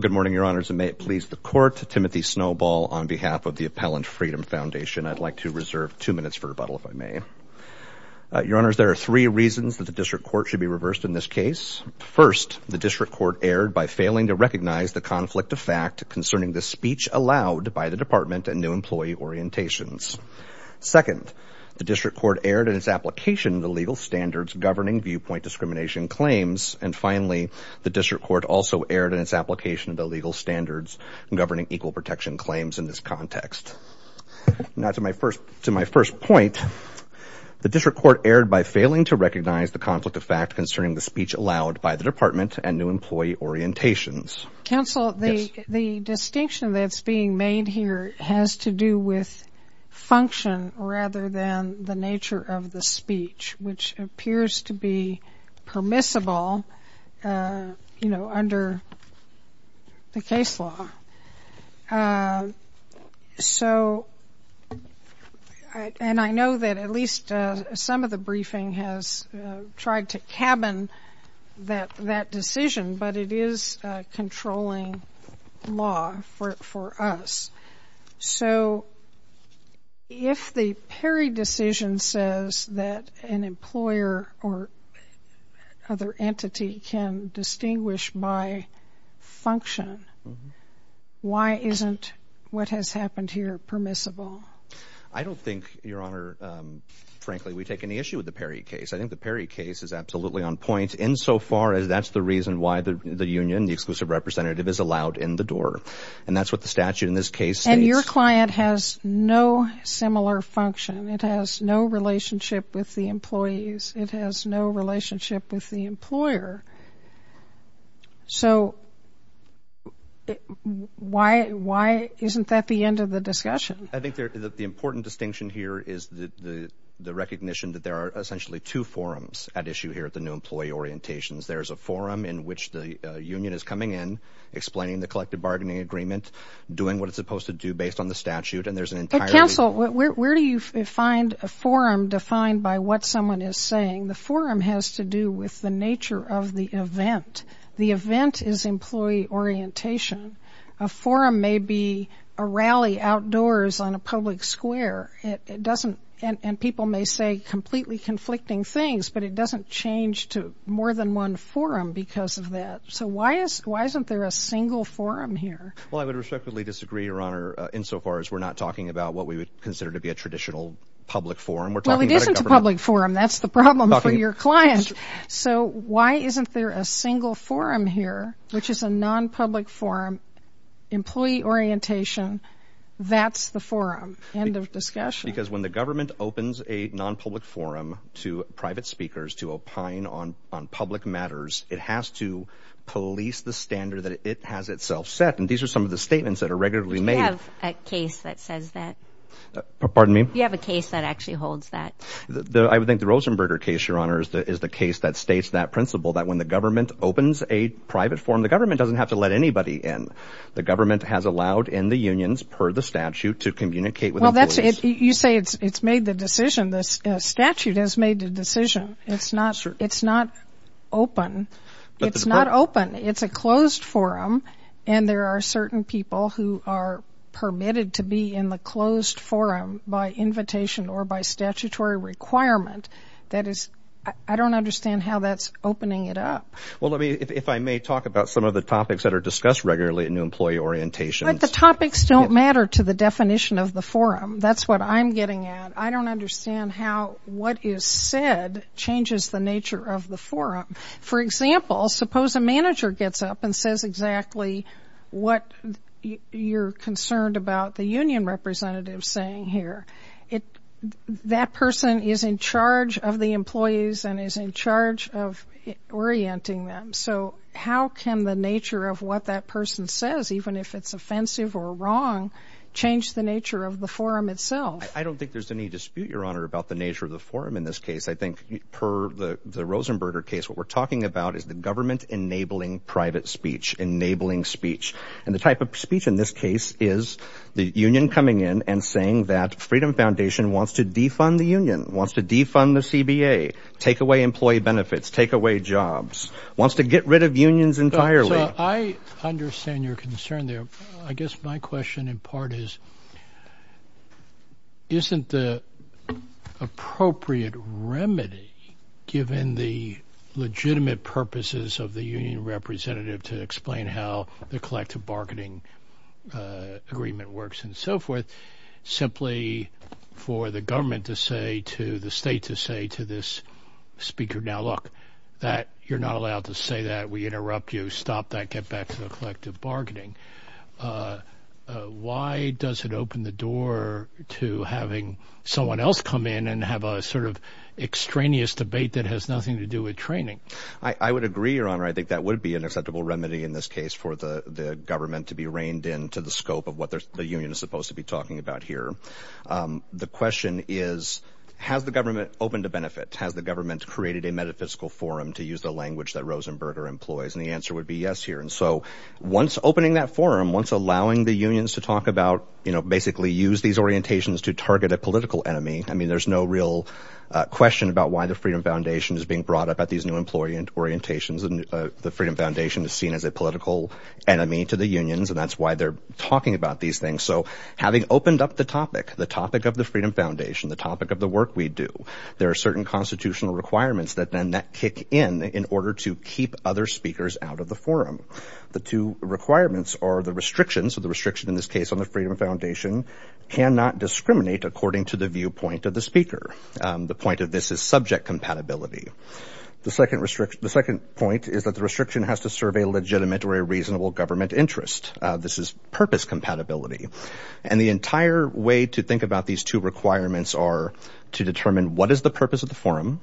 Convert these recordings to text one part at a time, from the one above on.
Good morning, Your Honors, and may it please the Court, Timothy Snowball on behalf of the Appellant Freedom Foundation. I'd like to reserve two minutes for rebuttal, if I may. Your Honors, there are three reasons that the District Court should be reversed in this case. First, the District Court erred by failing to recognize the conflict of fact concerning the speech allowed by the Department and new employee orientations. Second, the District Court erred in its application of the legal standards governing viewpoint discrimination claims. And finally, the District Court also erred in its application of the legal standards governing equal protection claims in this context. Now, to my first point, the District Court erred by failing to recognize the conflict of fact concerning the speech allowed by the Department and new employee orientations. Counsel, the distinction that's being made here has to do with function rather than the nature of the speech, which appears to be permissible, you know, under the case law. So, and I know that at least some of the briefing has tried to cabin that decision, but it is a controlling law for us. So, if the Perry decision says that an employer or other entity can distinguish by function, why isn't what has happened here permissible? I don't think, Your Honor, frankly, we take any issue with the Perry case. I think the Perry case is absolutely on point insofar as that's the reason why the union, the exclusive representative is allowed in the door. And that's what the statute in this case states. And your client has no similar function. It has no relationship with the employees. It has no relationship with the employer. So, why isn't that the end of the discussion? I think the important distinction here is the recognition that there are essentially two forums at issue here at the new employee orientations. There's a forum in which the union is coming in, explaining the collective bargaining agreement, doing what it's supposed to do based on the statute, and there's an entire... Well, where do you find a forum defined by what someone is saying? The forum has to do with the nature of the event. The event is employee orientation. A forum may be a rally outdoors on a public square. It doesn't... And people may say completely conflicting things, but it doesn't change to more than one forum because of that. So, why isn't there a single forum here? Well, I would respectfully disagree, Your Honor, insofar as we're not talking about what we would consider to be a traditional public forum. We're talking about a government... Well, it isn't a public forum. That's the problem for your client. So, why isn't there a single forum here, which is a non-public forum, employee orientation? That's the forum. End of discussion. Because when the government opens a non-public forum to private speakers to opine on public matters, it has to police the standard that it has itself set. And these are some of the statements that are regularly made. You have a case that says that. Pardon me? You have a case that actually holds that. I would think the Rosenberger case, Your Honor, is the case that states that principle that when the government opens a private forum, the government doesn't have to let anybody in. The government has allowed in the unions, per the statute, to communicate with the police. You say it's made the decision. The statute has made the decision. It's not open. It's a closed forum, and there are certain people who are permitted to be in the closed forum by invitation or by statutory requirement. I don't understand how that's opening it up. If I may talk about some of the topics that are discussed regularly in employee orientation. The topics don't matter to the definition of the forum. That's what I'm getting at. I don't understand how what is said changes the nature of the forum. For example, suppose a manager gets up and says exactly what you're concerned about the union representative saying here. That person is in charge of the employees and is in charge of orienting them. So how can the nature of what that person says, even if it's offensive or wrong, change the nature of the forum itself? I don't think there's any dispute, Your Honor, about the nature of the forum in this case. I think per the Rosenberger case, what we're talking about is the government enabling private speech, enabling speech. And the type of speech in this case is the union coming in and saying that Freedom Foundation wants to defund the union, wants to defund the CBA, take away employee benefits, take away jobs, wants to get rid of unions entirely. I understand your concern there. I guess my question in part is, isn't the appropriate remedy, given the legitimate purposes of the union representative to explain how the collective bargaining agreement works and so forth, simply for the government to say to the state to this speaker, now look, you're not allowed to say that. We interrupt you. Stop that. Get back to the collective bargaining. Why does it open the door to having someone else come in and have a sort of extraneous debate that has nothing to do with training? I would agree, Your Honor. I think that would be an acceptable remedy in this case for the government to be reined in to the scope of what the union is supposed to be talking about here. The question is, has the government opened a benefit? Has the government created a metaphysical forum to use the language that Rosenberger employs? And the answer would be yes here. And so once opening that forum, once allowing the unions to talk about, basically use these orientations to target a political enemy, I mean, there's no real question about why the Freedom Foundation is being brought up at these new employee orientations. And the Freedom Foundation is seen as a political enemy to the unions, and that's why they're talking about these things. So having opened up the topic, the topic of the Freedom Foundation, the topic of the work we do, there are certain constitutional requirements that then kick in in order to keep other speakers out of the forum. The two requirements are the restrictions, the restriction in this case on the Freedom Foundation, cannot discriminate according to the viewpoint of the speaker. The point of this is subject compatibility. The second point is that the restriction has to serve a legitimate or a reasonable government interest. This is purpose compatibility. And the entire way to think about these two requirements are to determine what is the purpose of the forum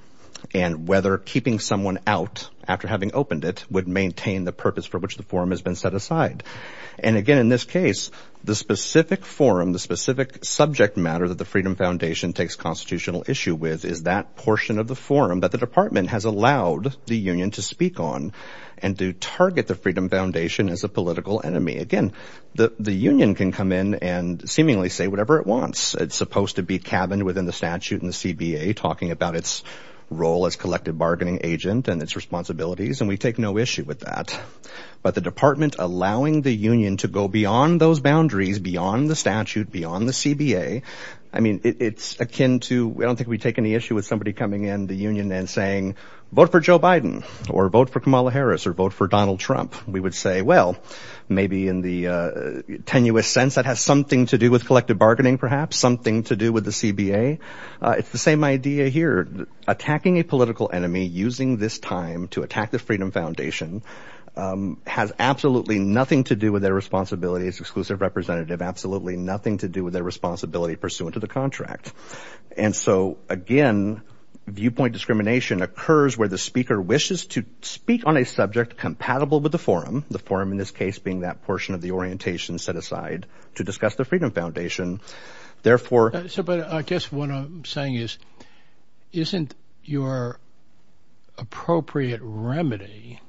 and whether keeping someone out after having opened it would maintain the purpose for which the forum has been set aside. And again, in this case, the specific forum, the specific subject matter that the Freedom Foundation takes constitutional issue with is that portion of the forum that the department has allowed the union to speak on and to target the Freedom Foundation as a political enemy. Again, the union can come in and seemingly say whatever it wants. It's supposed to be cabined within the statute and the CBA talking about its role as collective bargaining agent and its responsibilities, and we take no issue with that. But the department allowing the union to go beyond those boundaries, beyond the statute, beyond the CBA, I mean, it's akin to, I don't think we take any issue with somebody coming in the union and saying, vote for Joe Biden or vote for Kamala Harris or vote for Donald Trump. We would say, well, maybe in the tenuous sense that has something to do with collective bargaining, perhaps something to do with the CBA. It's the same idea here. Attacking a political enemy using this time to attack the Freedom Foundation has absolutely nothing to do with their responsibility as exclusive representative, absolutely nothing to do with their responsibility pursuant to the contract. And so, again, viewpoint discrimination occurs where the speaker wishes to speak on a subject compatible with the forum, the forum in this case being that portion of the orientation set aside to discuss the Freedom Foundation. Therefore... Sir, but I guess what I'm saying is, isn't your appropriate remedy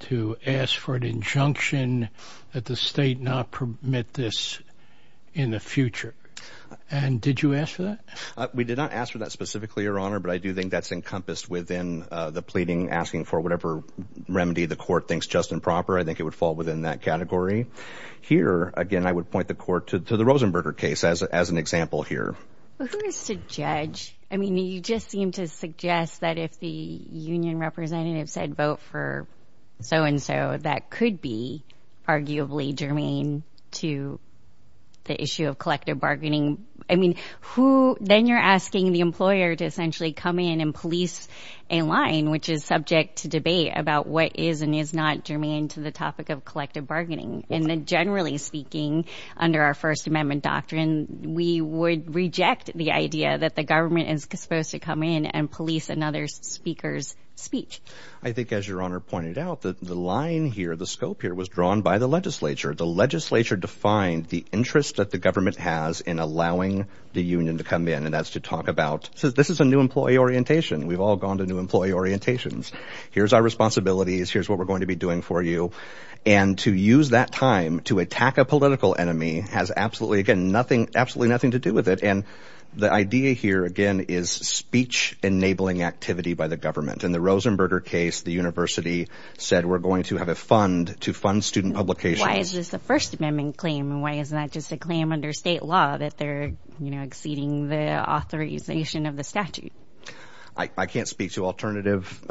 to ask for an injunction that the state not permit this in the future? And did you ask for that? We did not ask for that specifically, Your Honor, but I do think that's encompassed within the pleading, asking for whatever remedy the court thinks just and proper. I think it would fall within that category here. Again, I would point the court to the Rosenberger case as an example here. Well, who is to judge? I mean, you just seem to suggest that if the union representative said vote for so-and-so, that could be arguably germane to the issue of collective bargaining. I mean, who... Then you're asking the employer to essentially come in and police a line, which is subject to debate about what is and is not germane to the topic of collective bargaining. And then generally speaking, under our First Amendment doctrine, we would reject the idea that the government is supposed to come in and police another speaker's speech. I think as Your Honor pointed out, the line here, the scope here was drawn by the legislature. The legislature defined the interest that the government has in allowing the union to come in. And that's to talk about, this is a new employee orientation. We've all gone to new employee orientations. Here's our responsibilities. Here's what we're going to be doing for you. And to use that time to attack a political enemy has absolutely, again, nothing, absolutely The idea here, again, is speech-enabling activity by the government. In the Rosenberger case, the university said, we're going to have a fund to fund student publications. Why is this a First Amendment claim? And why isn't that just a claim under state law that they're exceeding the authorization of the statute? I can't speak to alternative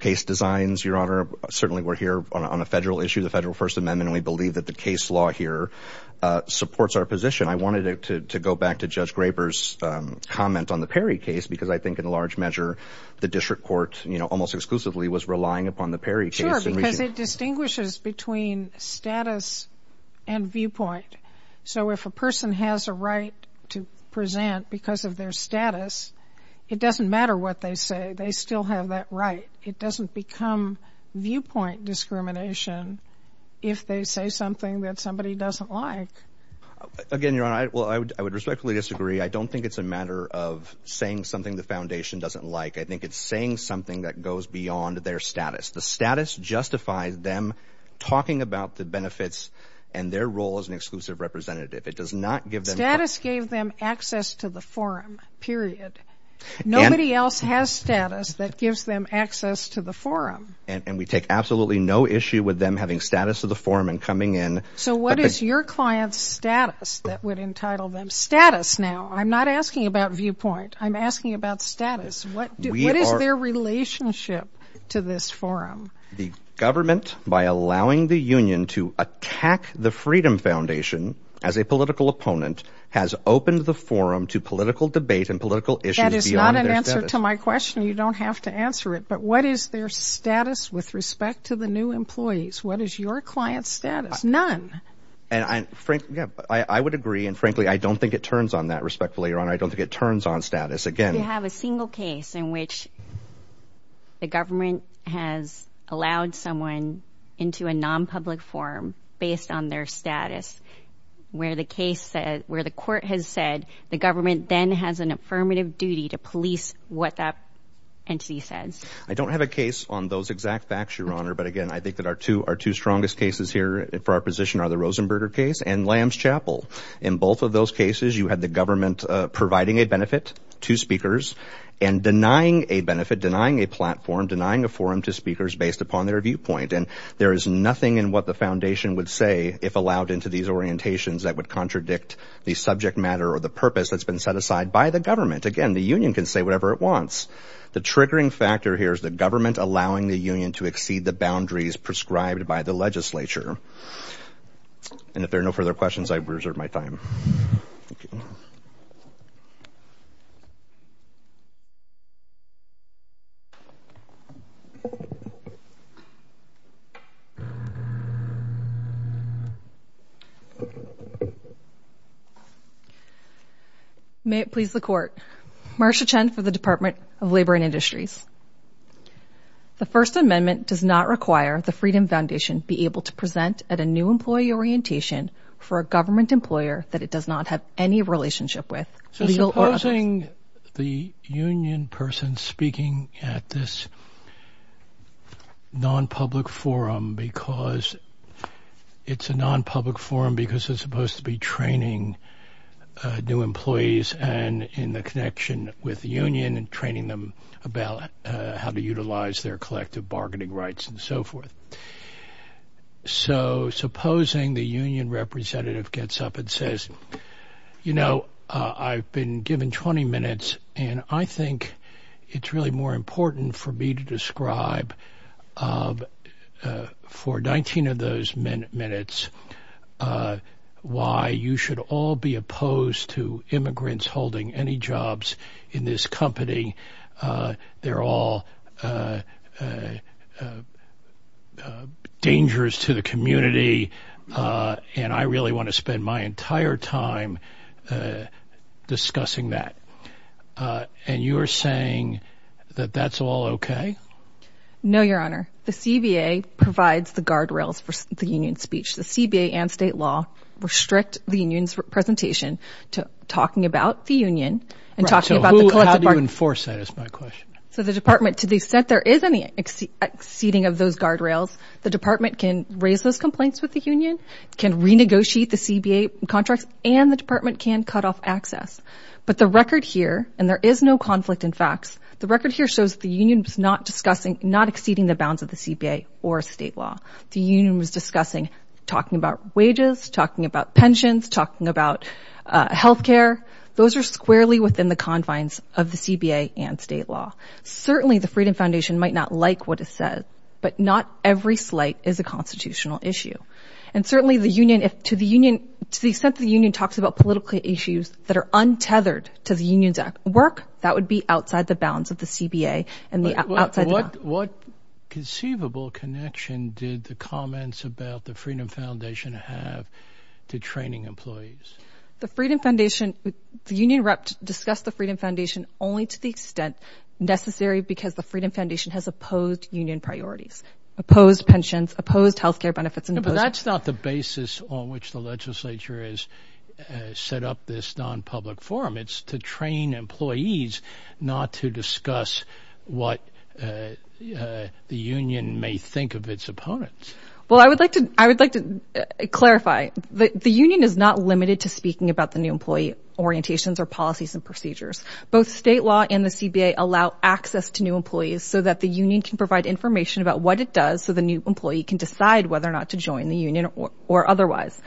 case designs, Your Honor. Certainly, we're here on a federal issue of the Federal First Amendment, and we believe that the case law here supports our position. I wanted to go back to Judge Graber's comment on the Perry case, because I think in large measure, the district court, you know, almost exclusively, was relying upon the Perry case. Sure, because it distinguishes between status and viewpoint. So if a person has a right to present because of their status, it doesn't matter what they say. They still have that right. It doesn't become viewpoint discrimination if they say something that somebody doesn't like. Again, Your Honor, I would respectfully disagree. I don't think it's a matter of saying something the foundation doesn't like. I think it's saying something that goes beyond their status. The status justifies them talking about the benefits and their role as an exclusive representative. It does not give them... Status gave them access to the forum, period. Nobody else has status that gives them access to the forum. And we take absolutely no issue with them having status of the forum and coming in... So what is your client's status that would entitle them? Status, now. I'm not asking about viewpoint. I'm asking about status. What is their relationship to this forum? The government, by allowing the union to attack the Freedom Foundation as a political opponent, has opened the forum to political debate and political issues beyond their status. That is not an answer to my question. You don't have to answer it. But what is their status with respect to the new employees? What is your client's status? None. I would agree, and frankly, I don't think it turns on that, respectfully, Your Honor. I don't think it turns on status. Again... You have a single case in which the government has allowed someone into a non-public forum based on their status, where the court has said the government then has an affirmative duty to police what that entity says. I don't have a case on those exact facts, Your Honor. But again, I think that our two strongest cases here for our position are the Rosenberger case and Lamb's Chapel. In both of those cases, you had the government providing a benefit to speakers and denying a benefit, denying a platform, denying a forum to speakers based upon their viewpoint. And there is nothing in what the foundation would say if allowed into these orientations that would contradict the subject matter or the purpose that's been set aside by the government. Again, the union can say whatever it wants. The triggering factor here is the government allowing the union to exceed the boundaries prescribed by the legislature. And if there are no further questions, I reserve my time. Thank you. May it please the Court. Marcia Chen for the Department of Labor and Industries. The First Amendment does not require the Freedom Foundation be able to present at a new employee orientation for a government employer that it does not have any relationship with. So supposing the union person speaking at this non-public forum because it's a non-public forum because it's supposed to be training new employees and in the connection with the union and training them about how to utilize their collective bargaining rights and so forth. So supposing the union representative gets up and says, you know, I've been given 20 minutes and I think it's really more important for me to describe for 19 of those minutes why you should all be opposed to immigrants holding any jobs in this company. They're all a dangerous to the community and I really want to spend my entire time discussing that. And you're saying that that's all okay? No, Your Honor. The CBA provides the guardrails for the union speech. The CBA and state law restrict the union's presentation to talking about the union and talking about the collective bargaining. How do you enforce that is my question. So the department to the extent there is any exceeding of those guardrails, the department can raise those complaints with the union, can renegotiate the CBA contracts, and the department can cut off access. But the record here, and there is no conflict in facts, the record here shows the union was not discussing, not exceeding the bounds of the CBA or state law. The union was discussing talking about wages, talking about pensions, talking about health care. Those are squarely within the confines of the CBA and state law. Certainly, the Freedom Foundation might not like what it says, but not every slight is a constitutional issue. And certainly the union, if to the union, to the extent the union talks about political issues that are untethered to the union's work, that would be outside the bounds of the CBA. What conceivable connection did the comments about the Freedom Foundation have to training employees? The Freedom Foundation, the union rep, discussed the Freedom Foundation only to the extent necessary because the Freedom Foundation has opposed union priorities, opposed pensions, opposed health care benefits. But that's not the basis on which the legislature is set up this non-public forum. It's to train employees, not to discuss what the union may think of its opponents. Well, I would like to, I would like to clarify that the union is not limited to speaking about the new employee orientations or policies and procedures. Both state law and the CBA allow access to new employees so that the union can provide information about what it does so the new employee can decide whether or not to join the union or otherwise.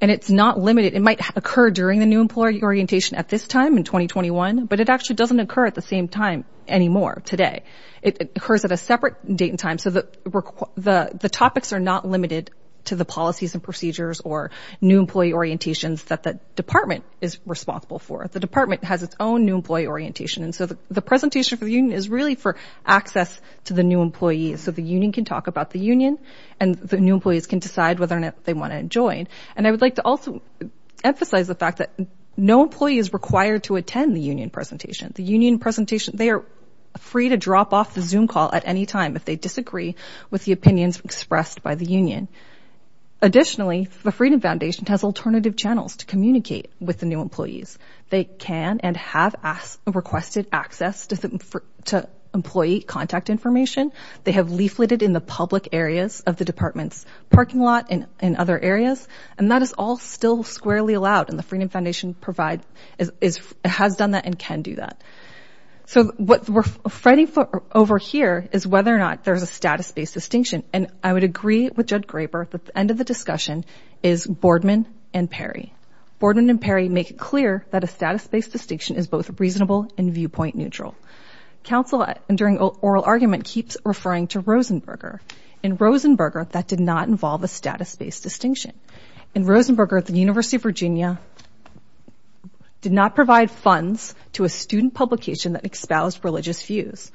And it's not limited. It might occur during the new employee orientation at this time in 2021, but it actually doesn't occur at the same time anymore today. It occurs at a separate date and time. So the topics are not limited to the policies and procedures or new employee orientations that the department is responsible for. The department has its own new employee orientation. And so the presentation for the union is really for access to the new employees so the union can talk about the union and the new employees can decide whether or not they want to join. And I would like to also emphasize the fact that no employee is required to attend the union presentation. The union presentation, they are free to drop off the Zoom call at any time if they disagree with the opinions expressed by the union. Additionally, the Freedom Foundation has alternative channels to communicate with the new employees. They can and have requested access to employee contact information. They have leafleted in the public areas of the department's parking lot and in other areas. And that is all still squarely allowed. And the Freedom Foundation has done that and can do that. So what we're fighting for over here is whether or not there's a status-based distinction. And I would agree with Judge Graber that the end of the discussion is Boardman and Perry. Boardman and Perry make it clear that a status-based distinction is both reasonable and viewpoint neutral. Counsel, during oral argument, keeps referring to Rosenberger. In Rosenberger, that did not involve a status-based distinction. In Rosenberger, the University of Virginia did not provide funds to a student publication that espoused religious views.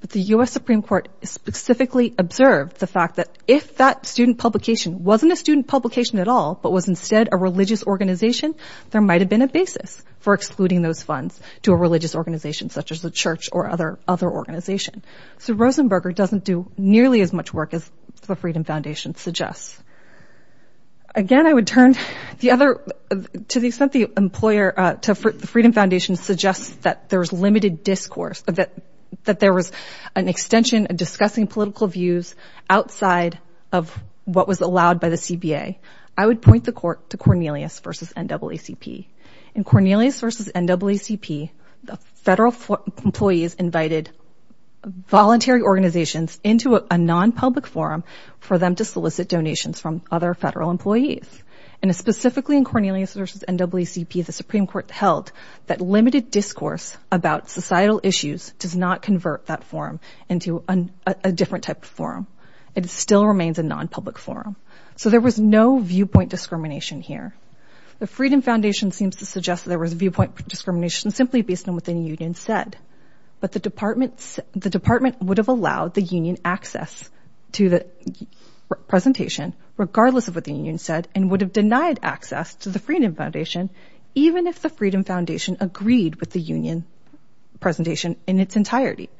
But the U.S. Supreme Court specifically observed the fact that if that student publication wasn't a student publication at all, but was instead a religious organization, there might have been a basis for excluding those funds to a religious organization such as the church or other organization. So Rosenberger doesn't do nearly as much work as the Freedom Foundation suggests. Again, I would turn to the extent the Freedom Foundation suggests that there was limited discourse, that there was an extension of discussing political views outside of what was allowed by the CBA. I would point the court to Cornelius v. NAACP. In Cornelius v. NAACP, the federal employees invited voluntary organizations into a non-public forum for them to solicit donations from other federal employees. And specifically in Cornelius v. NAACP, the Supreme Court held that limited discourse about societal issues does not convert that forum into a different type of forum. It still remains a non-public forum. So there was no viewpoint discrimination here. The Freedom Foundation seems to suggest there was viewpoint discrimination simply based on what the union said. But the department would have allowed the union access to the presentation, regardless of what the union said, and would have denied access to the Freedom Foundation, even if the Freedom Foundation agreed with the union presentation in its entirety.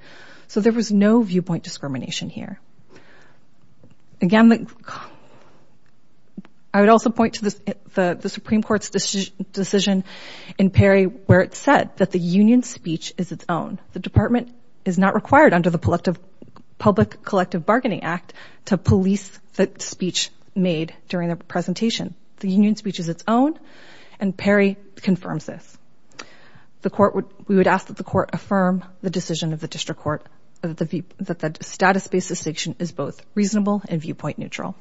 So there was no viewpoint discrimination here. Again, I would also point to the Supreme Court's decision in Perry where it said that the union speech is its own. The department is not required under the Public Collective Bargaining Act to police the speech made during the presentation. The union speech is its own, and Perry confirms this. We would ask that the court affirm the decision of the district court that the status basis section is both reasonable and viewpoint neutral.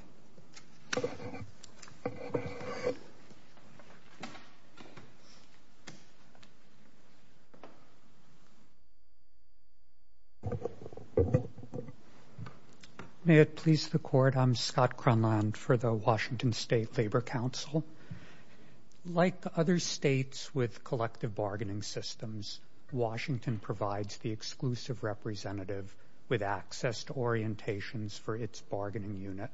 May it please the court, I'm Scott Cronland for the Washington State Labor Council. Like other states with collective bargaining systems, Washington provides the exclusive representative with access to orientations for its bargaining unit.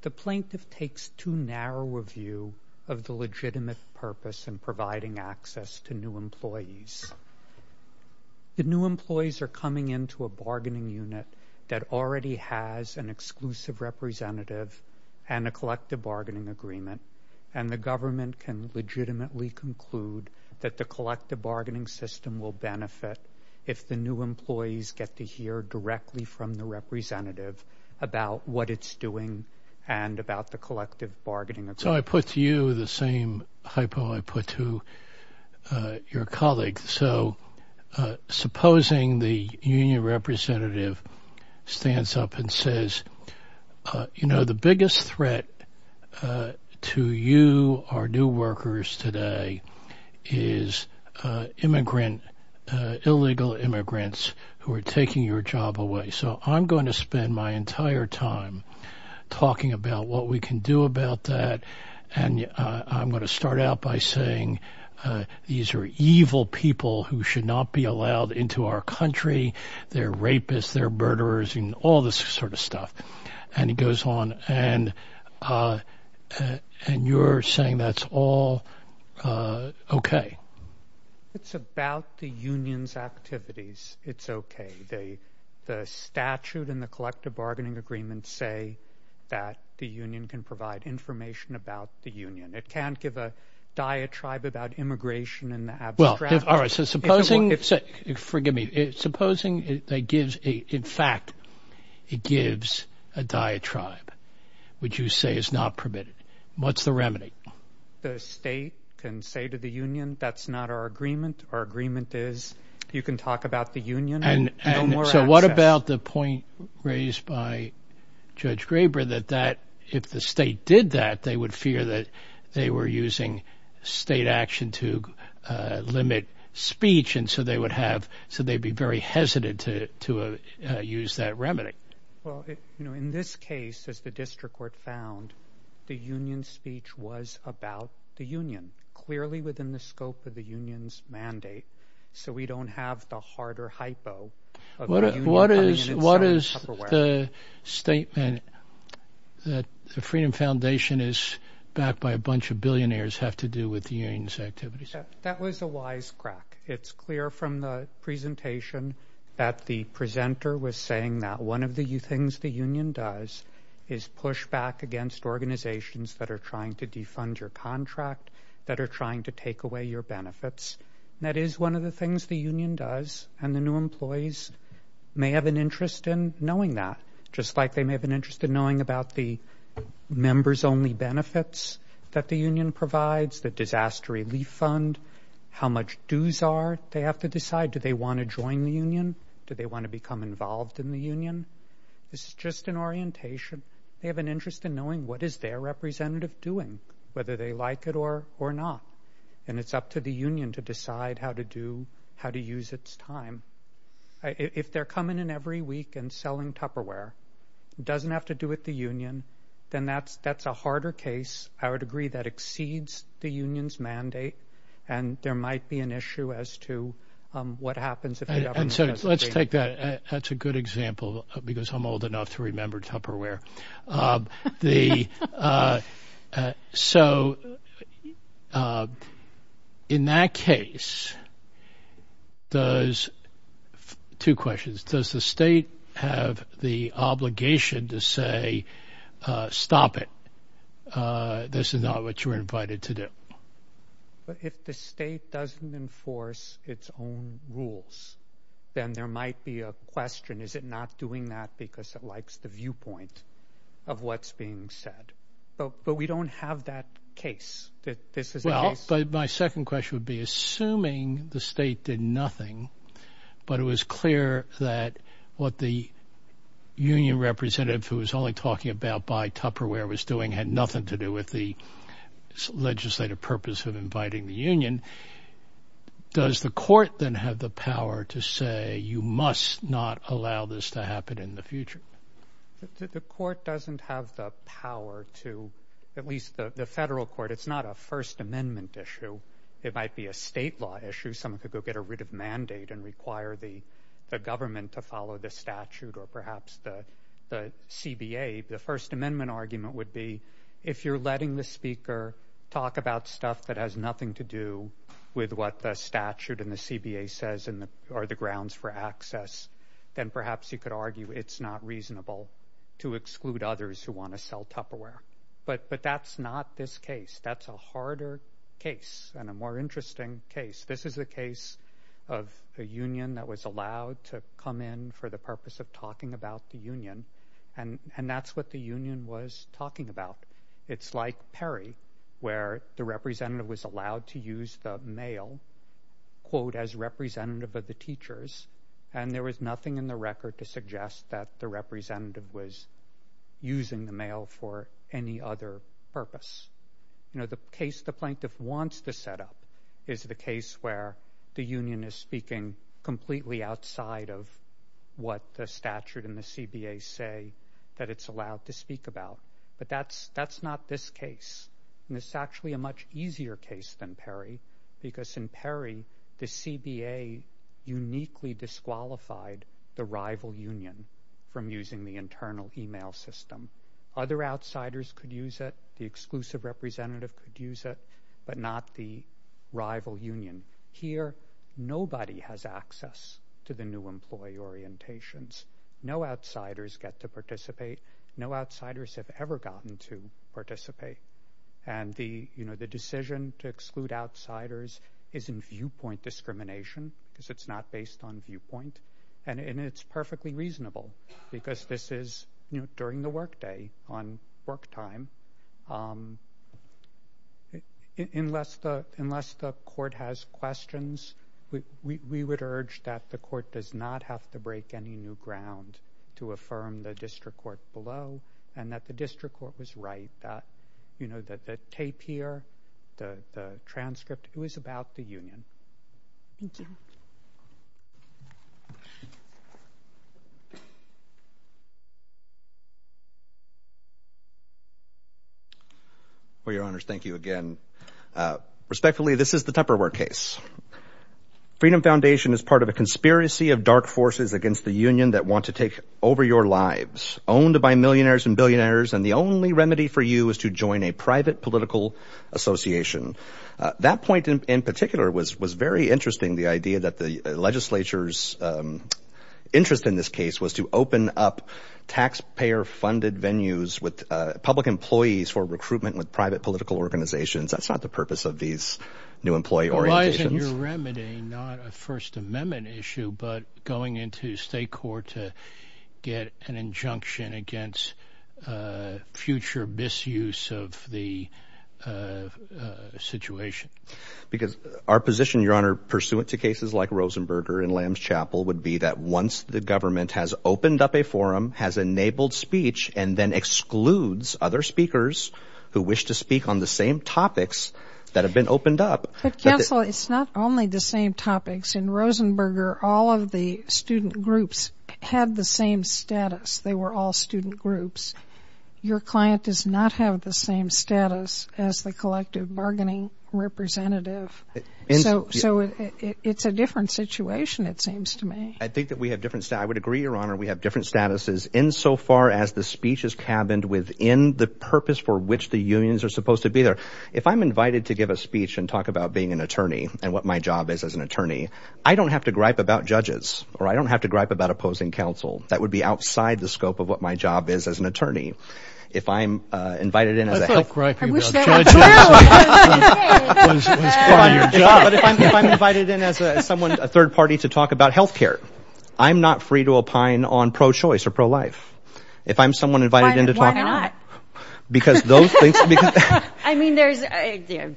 The plaintiff takes too narrow a view of the legitimate purpose in providing access to new employees. The new employees are coming into a bargaining unit that already has an exclusive representative and a collective bargaining agreement, and the government can legitimately conclude that the collective bargaining system will benefit if the new employees get to hear directly from the representative about what it's doing and about the collective bargaining. So I put to you the same hypo I put to your colleague. So supposing the union representative stands up and says, you know, the biggest threat to you, our new workers today is immigrant, illegal immigrants who are taking your job away. So I'm going to spend my entire time talking about what we can do about that. And I'm going to start out by saying these are evil people who should not be allowed into our country. They're rapists, they're murderers, you know, all this sort of stuff. And he goes on and you're saying that's all okay. It's about the union's activities. It's okay. The statute and the collective bargaining agreement say that the union can provide information about the union. It can't give a diatribe about immigration and the abstract. Well, all right. So supposing, forgive me, supposing it gives, in fact, it gives a diatribe, which you say is not permitted. What's the remedy? The state can say to the union, that's not our agreement. Our agreement is you can talk about the union. And so what about the point raised by Judge Graber that that, if the state did that, they would fear that they were using state action to limit speech. And so they would have, so they'd be very hesitant to use that remedy. Well, you know, in this case, as the district court found, the union speech was about the union, clearly within the scope of the freedom foundation is backed by a bunch of billionaires have to do with the union's activities. That was a wise crack. It's clear from the presentation that the presenter was saying that one of the things the union does is push back against organizations that are trying to defund your contract, that are trying to take away your benefits. That is one of the things the union does. And the new employees may have an interest in knowing that, just like they may have an interest in knowing about the members only benefits that the union provides, the disaster relief fund, how much dues are they have to decide. Do they want to join the union? Do they want to become involved in the union? This is just an orientation. They have an interest in knowing what is their representative doing, whether they like it or not. And it's up to the union to decide how to do, If they're coming in every week and selling Tupperware, it doesn't have to do with the union, then that's a harder case. I would agree that exceeds the union's mandate, and there might be an issue as to what happens. And so let's take that. That's a good example, because I'm old does two questions. Does the state have the obligation to say, stop it? This is not what you're invited to do. But if the state doesn't enforce its own rules, then there might be a question. Is it not doing that because it likes the viewpoint of what's being said? But we don't have that case that this is. Well, but my second question would be assuming the state did nothing, but it was clear that what the union representative who was only talking about by Tupperware was doing had nothing to do with the legislative purpose of inviting the union. Does the court then have the power to say you must not allow this to happen in the future? The court doesn't have the power to, at least the federal court, it's not a First Amendment issue. It might be a state law issue. Someone could go get a written mandate and require the government to follow the statute or perhaps the CBA. The First Amendment argument would be if you're letting the speaker talk about stuff that has nothing to do with what the statute and the CBA says are the grounds for access, then perhaps you could argue it's not reasonable to exclude others who want to sell Tupperware. But that's not this case. That's a harder case and a more interesting case. This is a case of a union that was allowed to come in for the purpose of talking about the union, and that's what the union was talking about. It's like Perry, where the representative was allowed to use the mail, quote, as representative of the teachers, and there was nothing in the record to suggest that the representative was using the mail for any other purpose. The case the plaintiff wants to set up is the case where the union is speaking completely outside of what the statute and the CBA say that it's allowed to speak about. But that's not this case. This is actually a much easier case than Perry, because in Perry, the CBA uniquely disqualified the rival union from using the internal email system. Other outsiders could use it. The exclusive representative could use it, but not the rival union. Here, nobody has access to the new employee orientations. No outsiders get to participate. No outsiders have ever gotten to participate, and the decision to exclude outsiders is in viewpoint discrimination, because it's not based on viewpoint, and it's perfectly reasonable, because this is during the workday, on work time. Unless the court has questions, we would urge that the court does not have to break any new ground to affirm the district court below, and that the district court was right that the tape here, the transcript, it was about the union. Thank you. Well, your honors, thank you again. Respectfully, this is the Tupperware case. Freedom Foundation is part of a conspiracy of dark forces against the union that want to take over your lives. Owned by millionaires and billionaires, and the only remedy for you is to join a private political association. That point, in particular, was very interesting, the idea that the legislature's interest in this case was to open up taxpayer-funded venues with public employees for recruitment with private political organizations. That's not the purpose of these new employee orientations. Why isn't your remedy not a First Amendment issue, but going into state court to get an injunction against future misuse of the situation? Because our position, your honor, pursuant to cases like Rosenberger and Lamb's Chapel, would be that once the government has opened up a forum, has enabled speech, and then excludes other speakers who wish to speak on the same topics that have been opened up... Counsel, it's not only the same topics. In Rosenberger, all of the student groups had the same status. They were all student groups. Your client does not have the same status as the collective bargaining representative. So it's a different situation, it seems to me. I think that we have different... I would agree, your honor, we have different statuses insofar as the speech is cabined within the purpose for which the unions are supposed to be there. If I'm invited to give a speech and talk about being an attorney, and what my job is as an attorney, I don't have to gripe about judges, or I don't have to gripe about opposing counsel. That would be outside the scope of what my job is as an attorney. If I'm invited in as a third party to talk about health care, I'm not free to opine on pro-choice or pro-life. If I'm someone invited in to talk about... Why not? I mean, there's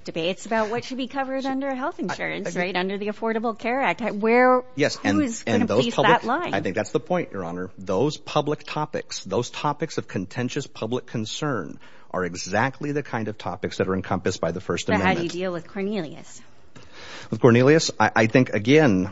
debates about what should be covered under health insurance, right? Under the Affordable Care Act. Who's going to piece that line? I think that's the point, your honor. Those public topics, those topics of contentious public concern are exactly the kind of topics that are encompassed by the First Amendment. How do you deal with Cornelius? With Cornelius? I think, again,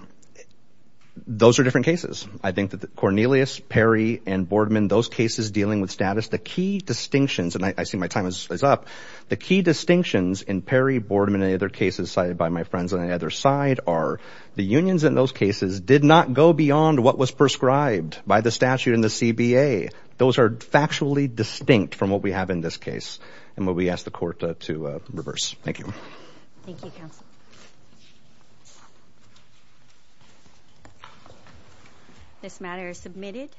those are different cases. I think that Cornelius, Perry, and Boardman, those cases dealing with the key distinctions, and I see my time is up. The key distinctions in Perry, Boardman, and any other cases cited by my friends on either side are the unions in those cases did not go beyond what was prescribed by the statute in the CBA. Those are factually distinct from what we have in this case, and we ask the court to reverse. Thank you. Thank you, counsel. This matter is submitted.